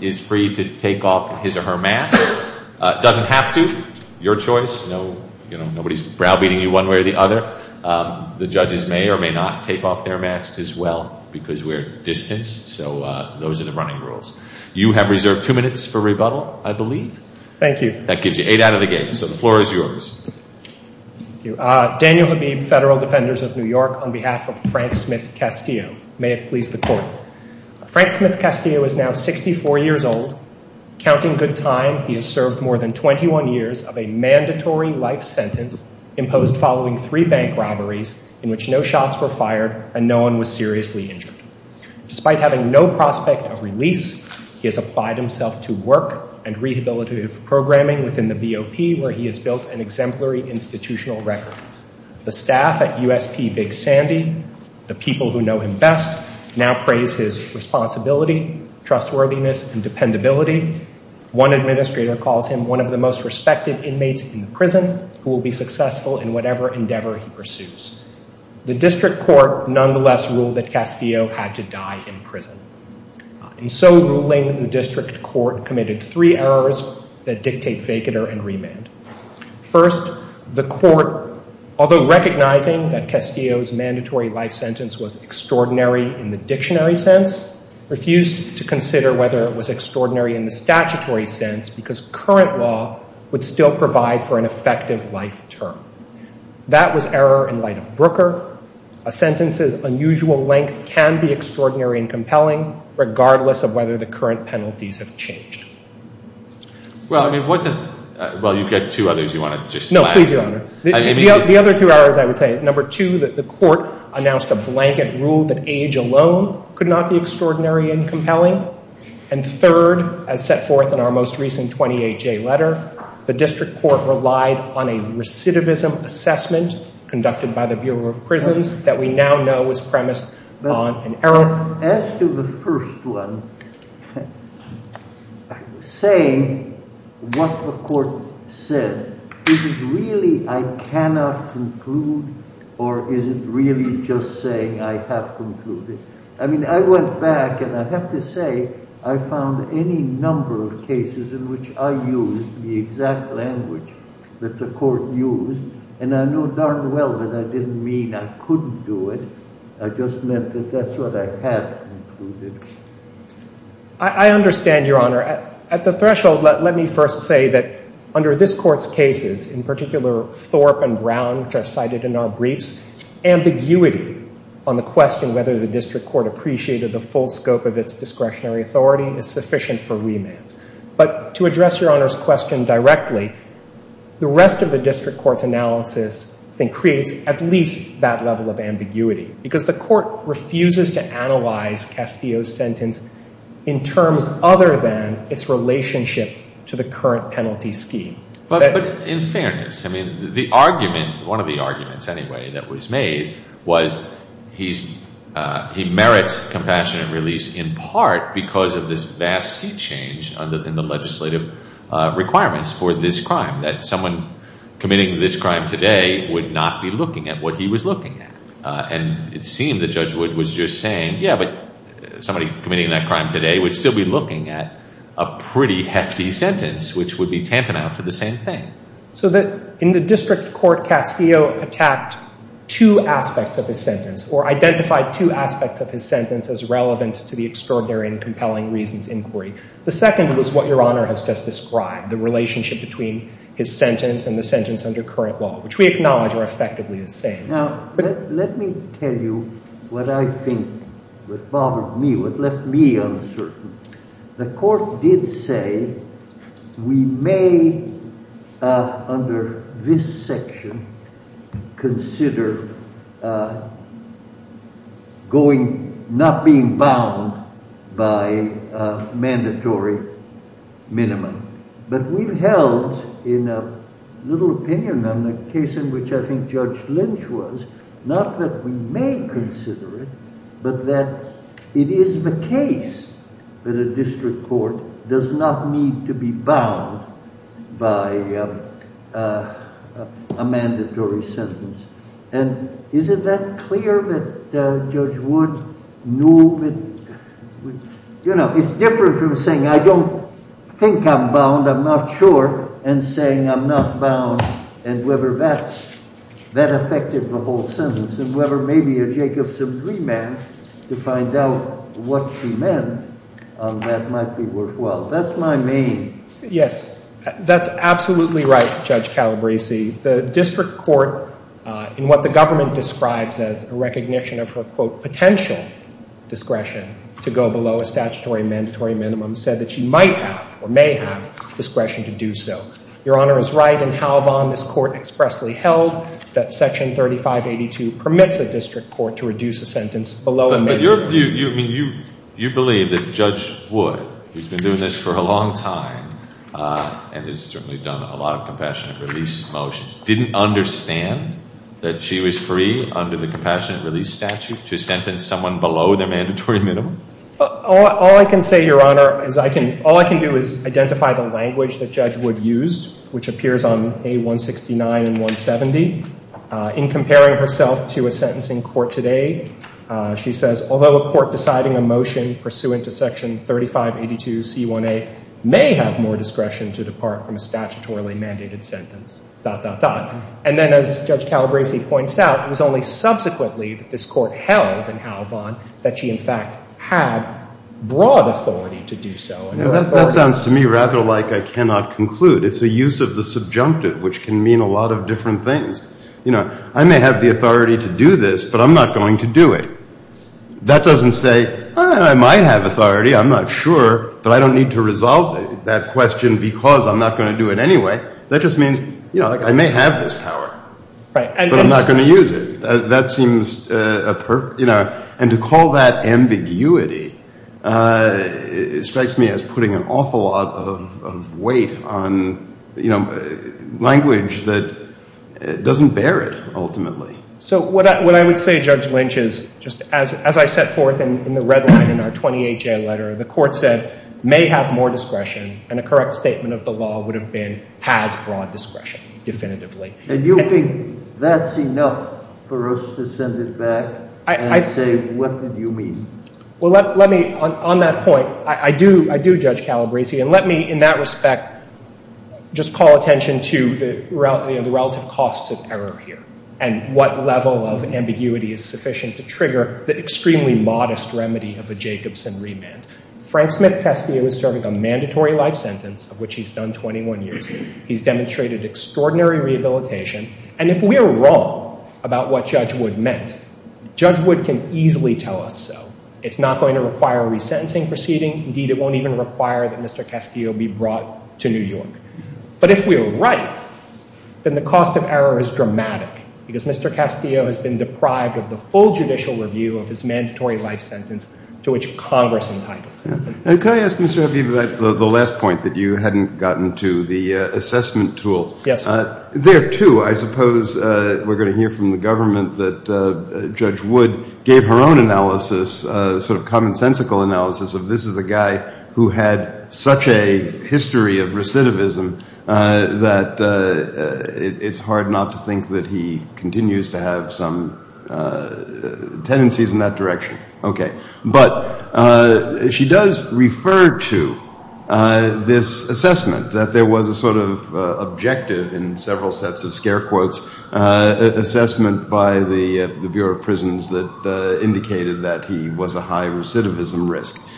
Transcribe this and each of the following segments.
is free to take off his or her mask. It doesn't have to. Your choice. Nobody's browbeating you one way or the other. The judges may or may not take off their masks as well because we're distanced. So those are the running rules. You have reserved two minutes for rebuttal, Thank you. Thank you. Thank you. Thank you. Thank you. Thank you. That gives you eight out of the game. So the floor is yours. Daniel Habib, Federal Defenders of New York, on behalf of Frank Smith Castillo. May it please the Court. Frank Smith Castillo is now 64 years old. Counting good time, he has served more than 21 years of a mandatory life sentence imposed following three bank robberies in which no shots were fired and no one was seriously injured. Despite having no prospect of release, he has applied himself to work and rehabilitative programming within the BOP where he has built an exemplary institutional record. The staff at USP Big Sandy, the people who know him best, now praise his responsibility, trustworthiness, and dependability. One administrator calls him one of the most respected inmates in the prison who will be successful in whatever ruling the district court committed three errors that dictate vacater and remand. First, the court, although recognizing that Castillo's mandatory life sentence was extraordinary in the dictionary sense, refused to consider whether it was extraordinary in the statutory sense because current law would still provide for an effective life term. That was error in light of Brooker. A third, as set forth in our most recent 28-J letter, the district court relied on a recidivism assessment conducted by the Bureau of Prisons that we now know was premised on an error. Now, as to the first one, saying what the court said, is it really I cannot conclude or is it really just saying I have concluded? I mean, I went back and I have to say I found any number of cases in which I used the exact language that the court used, and I know darn well that I didn't mean I couldn't do it. I just meant that that's what I have concluded. I understand, Your Honor. At the threshold, let me first say that under this Court's cases, in particular Thorpe and Brown, which are cited in our briefs, ambiguity on the question whether the district court appreciated the full scope of its discretionary authority is sufficient for remand. But to address Your Honor's question directly, the rest of the district court's analysis, I think, creates at least that level of ambiguity, because the court refuses to analyze Castillo's sentence in terms other than its relationship to the current penalty scheme. But in fairness, I mean, the argument, one of the arguments anyway that was made was he merits compassionate release in part because of this vast seat change in the legislative requirements for this crime, that someone committing this crime today would not be looking at what he was looking at. And it seemed that Judge Wood was just saying, yeah, but somebody committing that crime today would still be looking at a pretty hefty sentence, which would be tantamount to the same thing. So that in the district court, Castillo attacked two aspects of his sentence or identified two aspects of his sentence as relevant to the extraordinary and compelling reasons inquiry. The second was what Your Honor has just described, the relationship between his sentence and the sentence under current law, which we acknowledge are effectively the same. Now, let me tell you what I think, what bothered me, what left me uncertain. The court did say we may, under this section, consider going, not being bound by a mandatory minimum. But we've held, in a little opinion on the case in which I think Judge Lynch was, not that we may consider it, but that it is the case that a district court does not need to be bound by a mandatory sentence. And is it that clear that Judge Wood knew that, you know, it's different from saying I don't think I'm bound, I'm not sure, and saying I'm not bound, and whether that affected the whole sentence, and whether maybe a Jacobson remand to find out what she meant on that might be worthwhile. That's my main... Yes, that's absolutely right, Judge Calabresi. The district court in what the government describes as a recognition of her, quote, potential discretion to go below a statutory mandatory minimum, said that she might have, or may have, discretion to do so. Your Honor is right in Halvon. This Court expressly held that Section 3582 permits a district court to reduce a sentence below a mandatory minimum. But your view, I mean, you believe that Judge Wood, who's been doing this for a long time, and has certainly done a lot of compassionate release motions, didn't understand that she was free under the compassionate release statute to sentence someone below their mandatory minimum? All I can say, Your Honor, is all I can do is identify the language that Judge Wood used, which appears on A169 and pursuant to Section 3582C1A, may have more discretion to depart from a statutorily mandated sentence, dot, dot, dot. And then, as Judge Calabresi points out, it was only subsequently that this Court held in Halvon that she, in fact, had broad authority to do so. That sounds to me rather like I cannot conclude. It's a use of the subjunctive, which can mean a lot of different things. You know, I may have the authority to do this, but I'm not going to do it. That doesn't say, I might have authority, I'm not sure, but I don't need to resolve that question because I'm not going to do it anyway. That just means, you know, I may have this power, but I'm not going to use it. That seems a perfect, you know, and to call that ambiguity strikes me as putting an awful lot of weight on, you know, language that doesn't bear it, ultimately. So what I would say, Judge Lynch, is just as I set forth in the red line in our 28-J letter, the Court said may have more discretion, and a correct statement of the law would have been has broad discretion, definitively. And you think that's enough for us to send it back and say, what did you mean? Well, let me, on that point, I do, I do, Judge Calabresi, and let me, in that respect, just call attention to the relative costs of error here, and what level of ambiguity is sufficient to trigger the extremely modest remedy of a Jacobson remand. Frank Smith Castillo is serving a mandatory life sentence, of which he's done 21 years. He's demonstrated extraordinary rehabilitation, and if we are wrong about what Judge Wood meant, Judge Wood can easily tell us so. It's not going to require a resentencing proceeding. Indeed, it won't even require that Mr. Castillo be brought to New York. But if we are right, then the cost of error is dramatic, because Mr. Castillo has been deprived of the full judicial review of his mandatory life sentence to which Congress entitled. And can I ask, Mr. Huffey, about the last point that you hadn't gotten to, the assessment tool? Yes, sir. There, too, I suppose we're going to hear from the government that Judge Wood gave her own analysis, sort of commonsensical analysis, of this is a guy who had such a history of recidivism that it's hard not to think that he continues to have some tendencies in that direction. Okay. But she does refer to this assessment, that there was a sort of objective in several sets of scare quotes, assessment by the Bureau of Prisons that indicated that he was a high recidivism risk.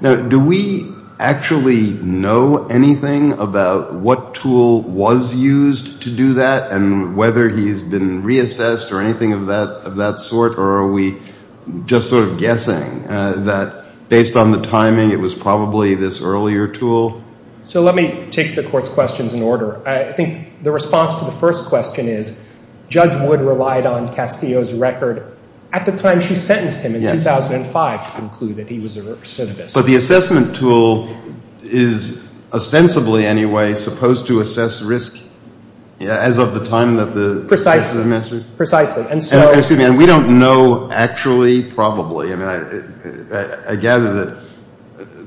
Now, do we actually know anything about what tool was used to do that, and whether he's been reassessed or anything of that sort, or are we just sort of guessing that based on the timing, it was probably this earlier tool? So let me take the Court's questions in order. I think the response to the first question is Judge Wood relied on Castillo's record at the time she sentenced him in 2005 to conclude that he was a recidivist. But the assessment tool is ostensibly, anyway, supposed to assess risk as of the time that the message? Precisely. And we don't know actually, probably. I mean, I gather that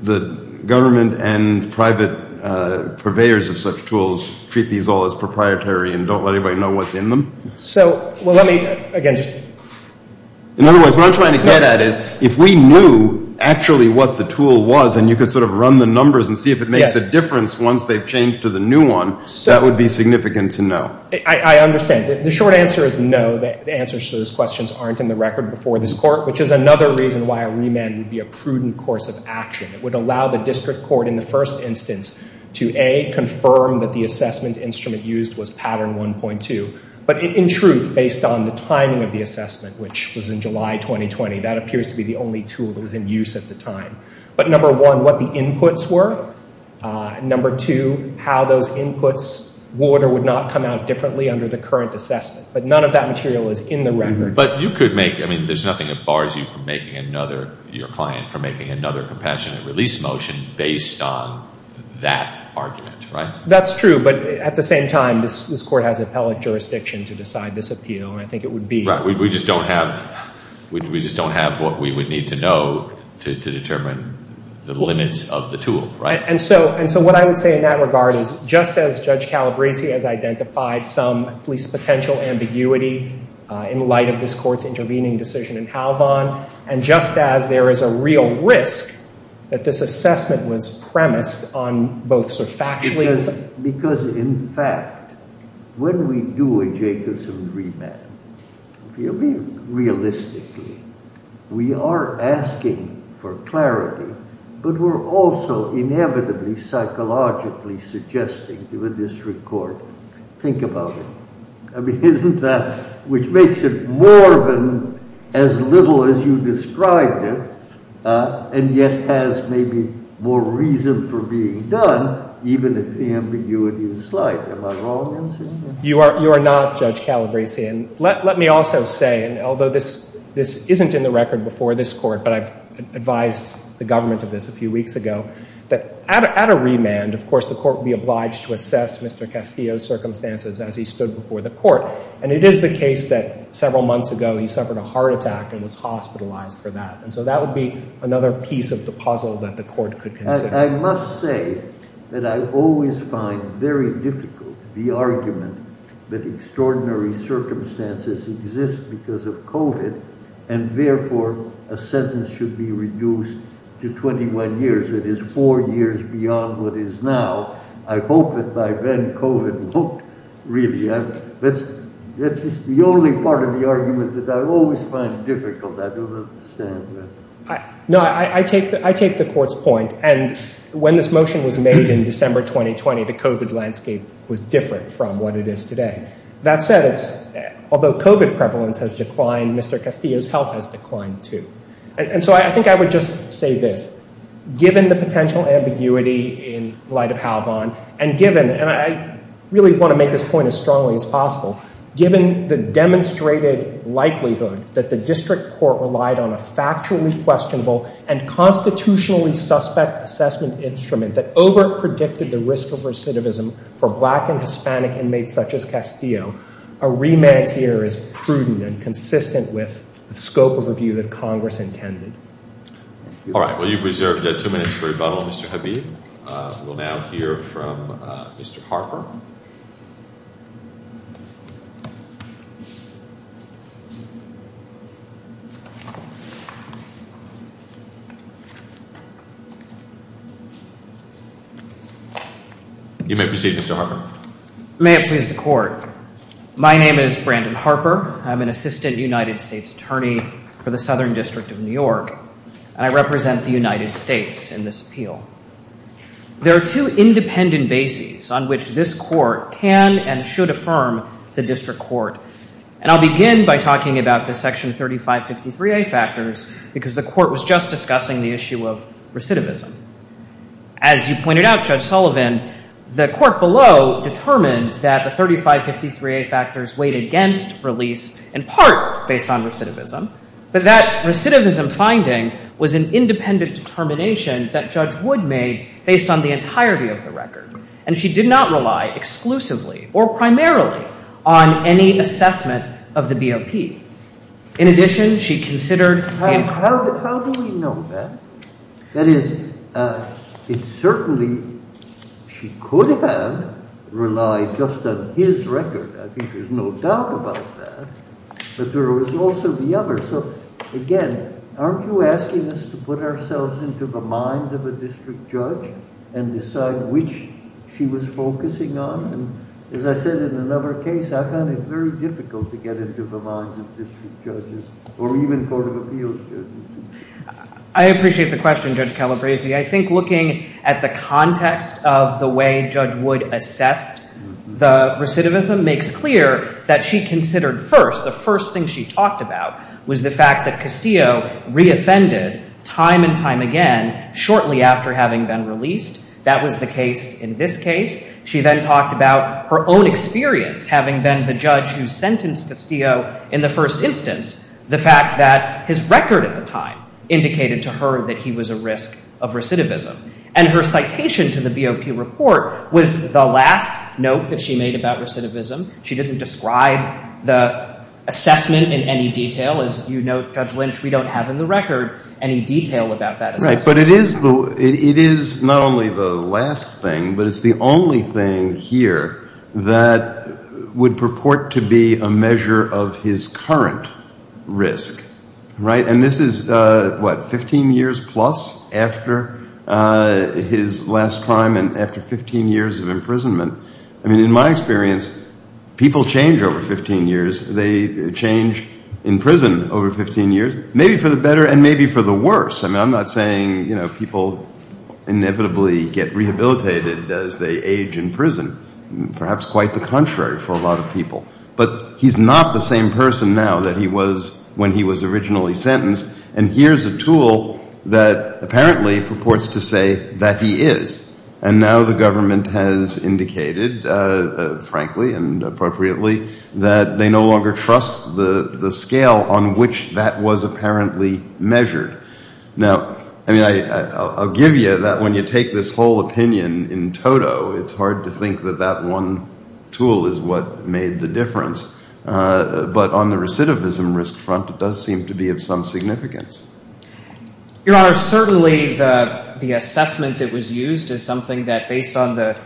the government and private purveyors of such tools treat these all as proprietary and don't let anybody know what's in them. So let me, again, just... In other words, what I'm trying to get at is if we knew actually what the tool was and you could sort of run the numbers and see if it makes a difference once they've changed to the new one, that would be significant to know. I understand. The short answer is no. The answers to those questions aren't in the record before this Court, which is another reason why a remand would be a prudent course of action. It would allow the district court in the first instance to, A, confirm that the assessment instrument used was Pattern 1.2. But in truth, based on the timing of the assessment, which was in July 2020, that appears to be the only tool that was in use at the time. But number one, what the inputs were. Number two, how those inputs would or would not come out differently under the current assessment. But none of that material is in the record. But you could make, I mean, there's nothing that bars you from making another, your client, from making another compassionate release motion based on that argument, right? That's true. But at the same time, this Court has appellate jurisdiction to decide this appeal. And I think it would be... Right. We just don't have, we just don't have what we would need to know to determine the limits of the tool, right? And so what I would say in that regard is just as Judge Calabresi has identified some police potential ambiguity in light of this Court's intervening decision in Halvon, and just as there is a real risk that this assessment was premised on both sort of factually... Because in fact, when we do a Jacobson remand, really realistically, we are asking for clarity, but we're also inevitably psychologically suggesting to a district court, think about it. I mean, isn't that... Which makes it more than as little as you described it, and yet has maybe more reason for being done, even if the ambiguity is slight. Am I wrong in saying that? You are not, Judge Calabresi. And let me also say, and although this isn't in the record before this Court, but I've advised the government of this a few weeks ago, that at a remand, of course, the Court would be obliged to assess Mr. Castillo's circumstances as he stood before the Court. And it is the case that several months ago, he suffered a heart attack and was hospitalized for that. And so that would be another piece of the puzzle that the Court could consider. I must say that I always find very difficult the argument that extraordinary circumstances exist because of COVID, and therefore a sentence should be reduced to 21 years, that is four years beyond what is now. I hope that by then COVID won't really... That's just the only part of the argument that I always find difficult. I don't understand that. No, I take the Court's point. And when this motion was made in December 2020, the COVID landscape was different from what it is today. That said, although COVID prevalence has declined, Mr. Castillo's health has declined too. And so I think I would just say this. Given the potential ambiguity in light of Halvon, and given, and I really want to make this point as strongly as possible, the unquestionable and constitutionally suspect assessment instrument that overpredicted the risk of recidivism for black and Hispanic inmates such as Castillo, a remand here is prudent and consistent with the scope of review that Congress intended. All right. Well, you've reserved two minutes for rebuttal, Mr. Habib. We'll now hear from Mr. Harper. You may proceed, Mr. Harper. May it please the Court. My name is Brandon Harper. I'm an assistant United States attorney for the Southern District of New York, and I represent the United States in this appeal. There are two independent bases on which this Court can and should affirm the District Court. And I'll begin by talking about the Section 3553A factors, because the Court was just discussing the issue of recidivism. As you pointed out, Judge Sullivan, the Court below determined that the 3553A factors weighed against release in part based on recidivism, but that recidivism finding was an independent determination that Judge Sullivan relied on the entirety of the record, and she did not rely exclusively or primarily on any assessment of the BOP. In addition, she considered How do we know that? That is, it's certainly she could have relied just on his record. I think there's no doubt about that. But there was also the other. So, again, aren't you asking us to put ourselves into the minds of a district judge and decide which she was focusing on? As I said in another case, I found it very difficult to get into the minds of district judges or even Court of Appeals judges. I appreciate the question, Judge Calabresi. I think looking at the context of the way Judge Wood assessed the recidivism makes clear that she considered first, the first thing she talked about was the fact that Castillo reoffended time and time again shortly after having been released. That was the case in this case. She then talked about her own experience, having been the judge who sentenced Castillo in the first instance, the fact that his record at the time indicated to her that he was a risk of recidivism. And her citation to the BOP report was the last note that she made about recidivism. She didn't describe the assessment in any detail. As you note, Judge Lynch, we don't have in the record any detail about that. But it is not only the last thing, but it's the only thing here that would purport to be a measure of his current risk. Right? And this is, what, 15 years plus after his last time and after 15 years of imprisonment. I mean, in my experience, people change over 15 years. They change in prison over 15 years, maybe for the better and maybe for the worse. I'm not saying, you know, people inevitably get rehabilitated as they age in prison. Perhaps quite the contrary for a lot of people. But he's not the same person now that he was when he was originally sentenced. And here's a tool that apparently purports to say that he is. And now the government has indicated, frankly and appropriately, that they no longer have any information on the extent to which that was apparently measured. Now, I mean, I'll give you that when you take this whole opinion in toto, it's hard to think that that one tool is what made the difference. But on the recidivism risk front, it does seem to be of some significance. Your Honor, certainly the assessment that was used is something that, based on the report, we don't have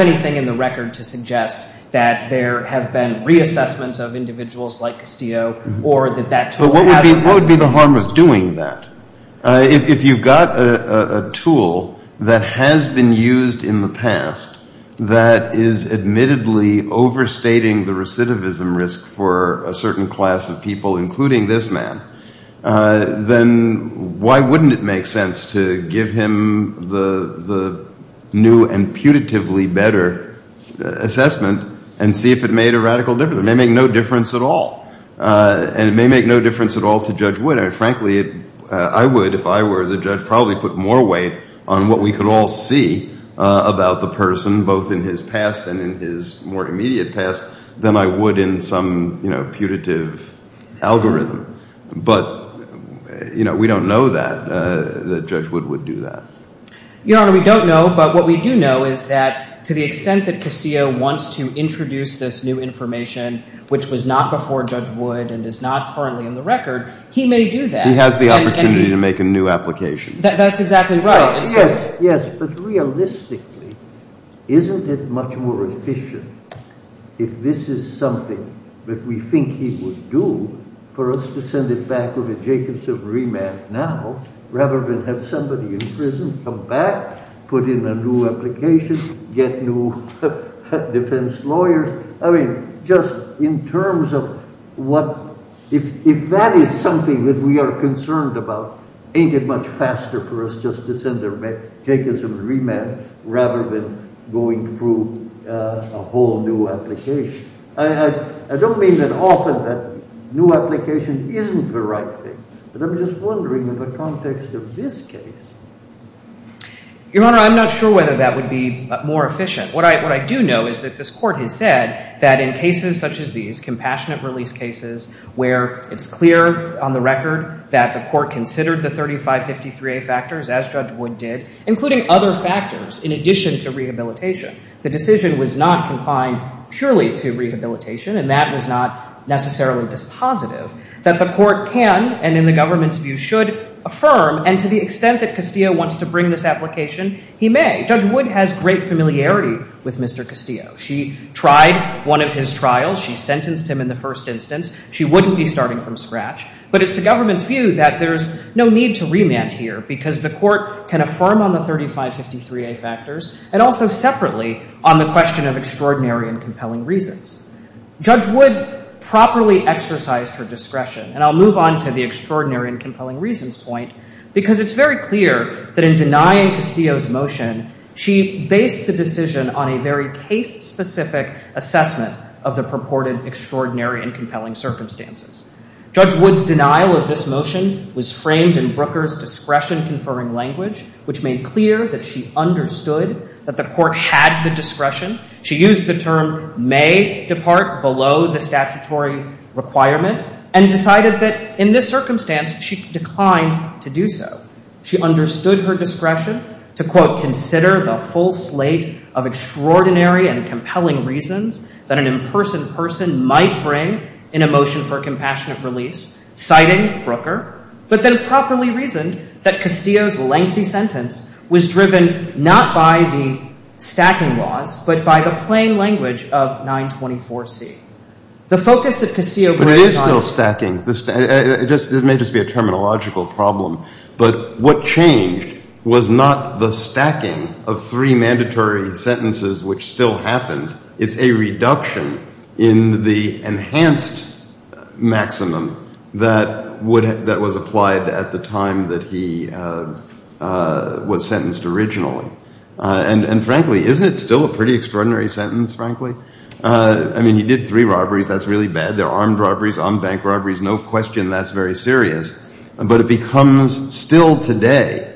anything in the record to suggest that there have been reassessments of individuals like Castillo or that that tool has been used. If you've got a tool that has been used in the past that is admittedly overstating the recidivism risk for a certain class of people, including this man, then why wouldn't it make sense to give him the new and putatively better assessment and see if it made a radical difference? It may make no difference at all. And it may make no difference at all to Judge Wood. Frankly, I would, if I were the judge, probably put more weight on what we could all see about the person, both in his past and in his more immediate past, than I would in some putative algorithm. But we don't know that Judge Wood would do that. Your Honor, we don't know. But what we do know is that to the extent that Castillo wants to introduce this new information, which was not before Judge Wood and is not currently in the record, he may do that. He has the opportunity to make a new application. That's exactly right. Yes, but realistically, isn't it much more efficient if this is something that we think he would do for us to send it back with a Jacobson remand now rather than have somebody in prison come back, put in a new application, get new defense lawyers? I mean, just in terms of what, if that is something that we are concerned about, ain't it much faster for us just to send a Jacobson remand rather than going through a whole new application? I don't mean that often that new application isn't the right thing, but I'm just wondering in the context of this case. Your Honor, I'm not sure whether that would be more efficient. What I do know is that this Court has said that in cases such as these, compassionate release cases, where it's clear on the record that the Court considered the 3553A factors, as Judge Wood did, including other factors in addition to rehabilitation. The decision was not confined purely to rehabilitation, and that was not necessarily dispositive, that the Court can, and in the government's view should, affirm, and to the extent that Castillo wants to bring this application, he may. Judge Wood has great familiarity with Mr. Castillo. She tried one of his trials. She sentenced him in the first instance. She wouldn't be starting from scratch. But it's the government's view that there's no need to remand here because the Court can affirm on the 3553A factors and also separately on the question of extraordinary and compelling reasons. Judge Wood properly exercised her discretion, and I'll move on to the extraordinary and compelling reasons point, because it's very clear that in denying Castillo's motion, she based the decision on a very case-specific assessment of the purported extraordinary and compelling circumstances. Judge Wood's denial of this was that the Court had the discretion. She used the term may depart below the statutory requirement, and decided that in this circumstance, she declined to do so. She understood her discretion to, quote, consider the full slate of extraordinary and compelling reasons that an imperson person might bring in a motion for compassionate release, citing But then properly reasoned that Castillo's lengthy sentence was driven not by the stacking laws, but by the plain language of 924C. The focus that Castillo brings on... But it is still stacking. This may just be a terminological problem. But what changed was not the stacking of three mandatory sentences, which still happens. It's a reduction in the enhanced maximum that was applied at the time that he was sentenced originally. And frankly, isn't it still a pretty extraordinary sentence, frankly? I mean, he did three robberies. That's really bad. They're armed robberies, unbanked robberies. No question that's very serious. But it becomes still today,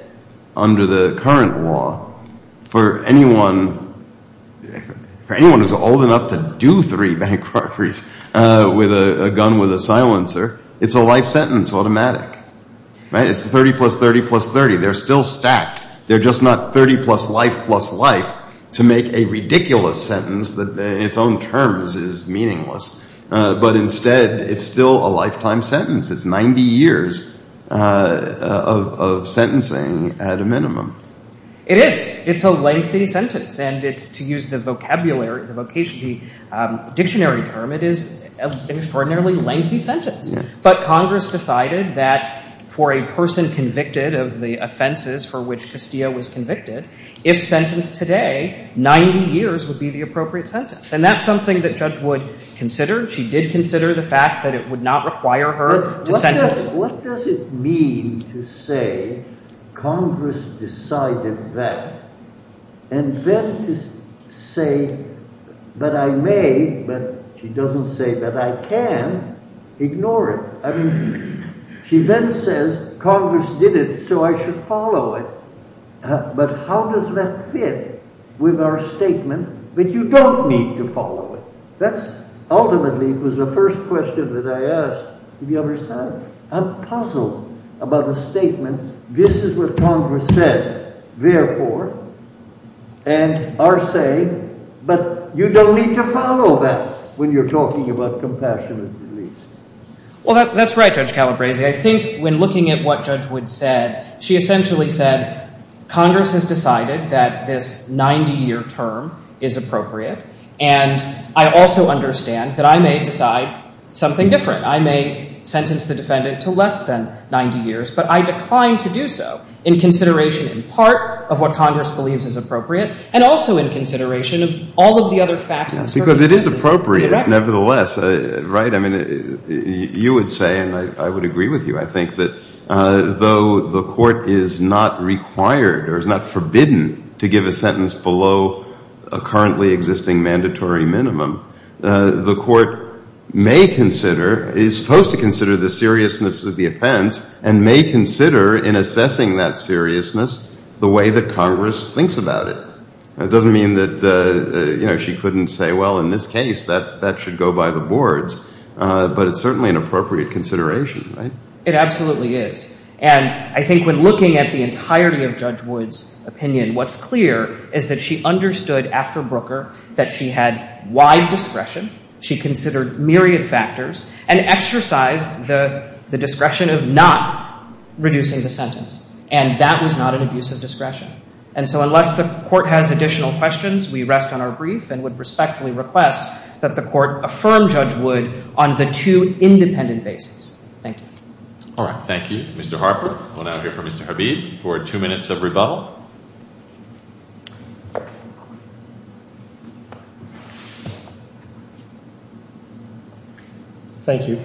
under the current law, for anyone who's old enough to do three bank It's a life sentence automatic. It's 30 plus 30 plus 30. They're still stacked. They're just not 30 plus life plus life to make a ridiculous sentence that in its own terms is meaningless. But instead, it's still a lifetime sentence. It's 90 years of sentencing at a minimum. It is. It's a lengthy sentence. And to use the dictionary term, it is an extraordinarily lengthy sentence. But Congress decided that for a person convicted of the offenses for which Castillo was convicted, if sentenced today, 90 years would be the appropriate sentence. And that's something that Judge Wood considered. She did consider the fact that it would not require her to sentence. What does it mean to say Congress decided that and then to say that I may, but she doesn't say that I can ignore it. I mean, she then says Congress did it, so I should follow it. But how does that fit with our statement? But you don't need to follow it. That's ultimately was the first question that I asked the other side. I'm puzzled about the statement. This is what Congress said, therefore, and are saying, but you don't need to follow that when you're talking about compassionate release. Well, that's right, Judge Calabresi. I think when looking at what Judge Wood said, she essentially said Congress has decided that this 90 year term is appropriate. And I also understand that I may decide something different. I may sentence the defendant to less than 90 years, but I decline to do so in consideration in part of what Congress believes is appropriate and also in consideration of all of the other facts Because it is appropriate, nevertheless, right? I mean, you would say, and I would agree with you, I think that though the court is not required or is not forbidden to give a sentence below a currently existing mandatory minimum, the court may consider, is supposed to consider the seriousness of the offense and may consider in assessing that seriousness the way that Congress thinks about it. It doesn't mean that she couldn't say, well, in this case that should go by the boards, but it's certainly an appropriate consideration, right? It absolutely is. And I think when looking at the entirety of Judge Wood's opinion, what's clear is that she understood after Brooker that she had wide discretion, she considered myriad factors, and exercised the discretion of not reducing the sentence. And that was not an abuse of discretion. And so unless the court has additional questions, we rest on our brief and would respectfully request that the court affirm Judge Wood on the two independent bases. Thank you. All right. Thank you. Mr. Harper, we'll now hear from Mr. Habib for two minutes of rebuttal. Thank you.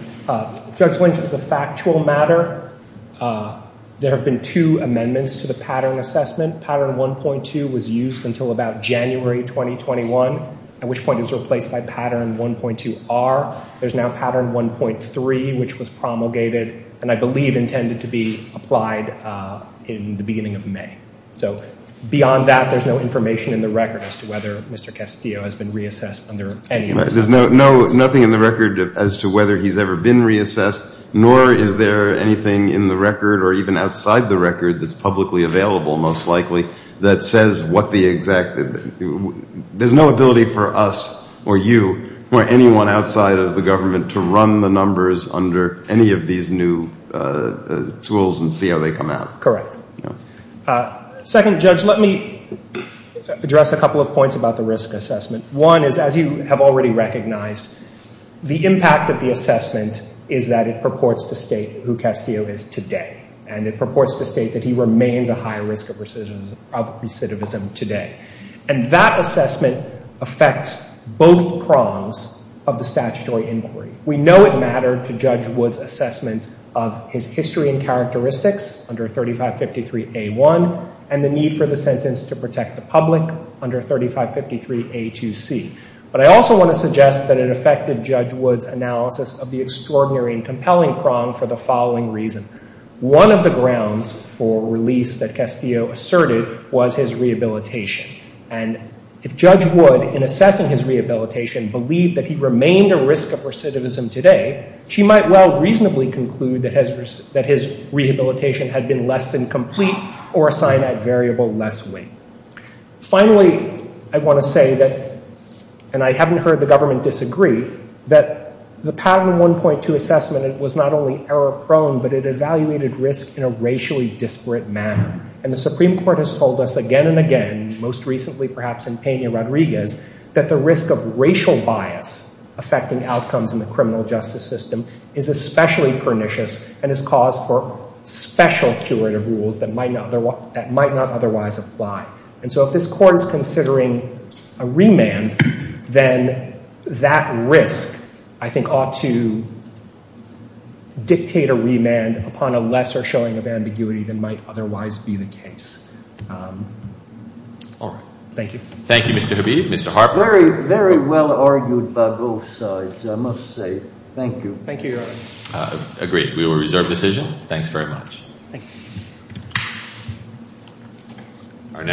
Judge Lynch, as a factual matter, there have been two amendments to the pattern assessment. Pattern 1.2 was used until about January 2021, at which point it was replaced by Pattern 1.2R. There's now Pattern 1.3, which was promulgated and I believe intended to be applied in the beginning of May. So beyond that, there's no information in the record as to whether Mr. Castillo has been reassessed under any of those. There's nothing in the record as to whether he's ever been reassessed, nor is there anything in the record or even outside the record that's publicly available, most likely, that says what the exact — there's no ability for us or you or anyone outside of the government to run the numbers under any of these new tools and see how they come out. Correct. Second, Judge, let me The impact of the assessment is that it purports to state who Castillo is today. And it purports to state that he remains a high risk of recidivism today. And that assessment affects both prongs of the statutory inquiry. We know it mattered to Judge Wood's assessment of his history and characteristics under 3553A1 and the need for the sentence to protect the public under 3553A2C. But I also want to suggest that it affected Judge Wood's analysis of the extraordinary and compelling prong for the following reason. One of the grounds for release that Castillo asserted was his rehabilitation. And if Judge Wood, in assessing his rehabilitation, believed that he remained a risk of recidivism today, she might well reasonably conclude that his rehabilitation had been less than complete or assign that variable less weight. Finally, I want to say that — and I haven't heard the government disagree — that the patent 1.2 assessment was not only error-prone, but it evaluated risk in a racially disparate manner. And the Supreme Court has told us again and again, most recently perhaps in Peña-Rodriguez, that the risk of racial bias affecting outcomes in the criminal justice system is especially pernicious and is cause for special curative rules that might not otherwise apply. And so if this Court is considering a remand, then that risk, I think, ought to dictate a remand upon a lesser showing of ambiguity than might otherwise be the case.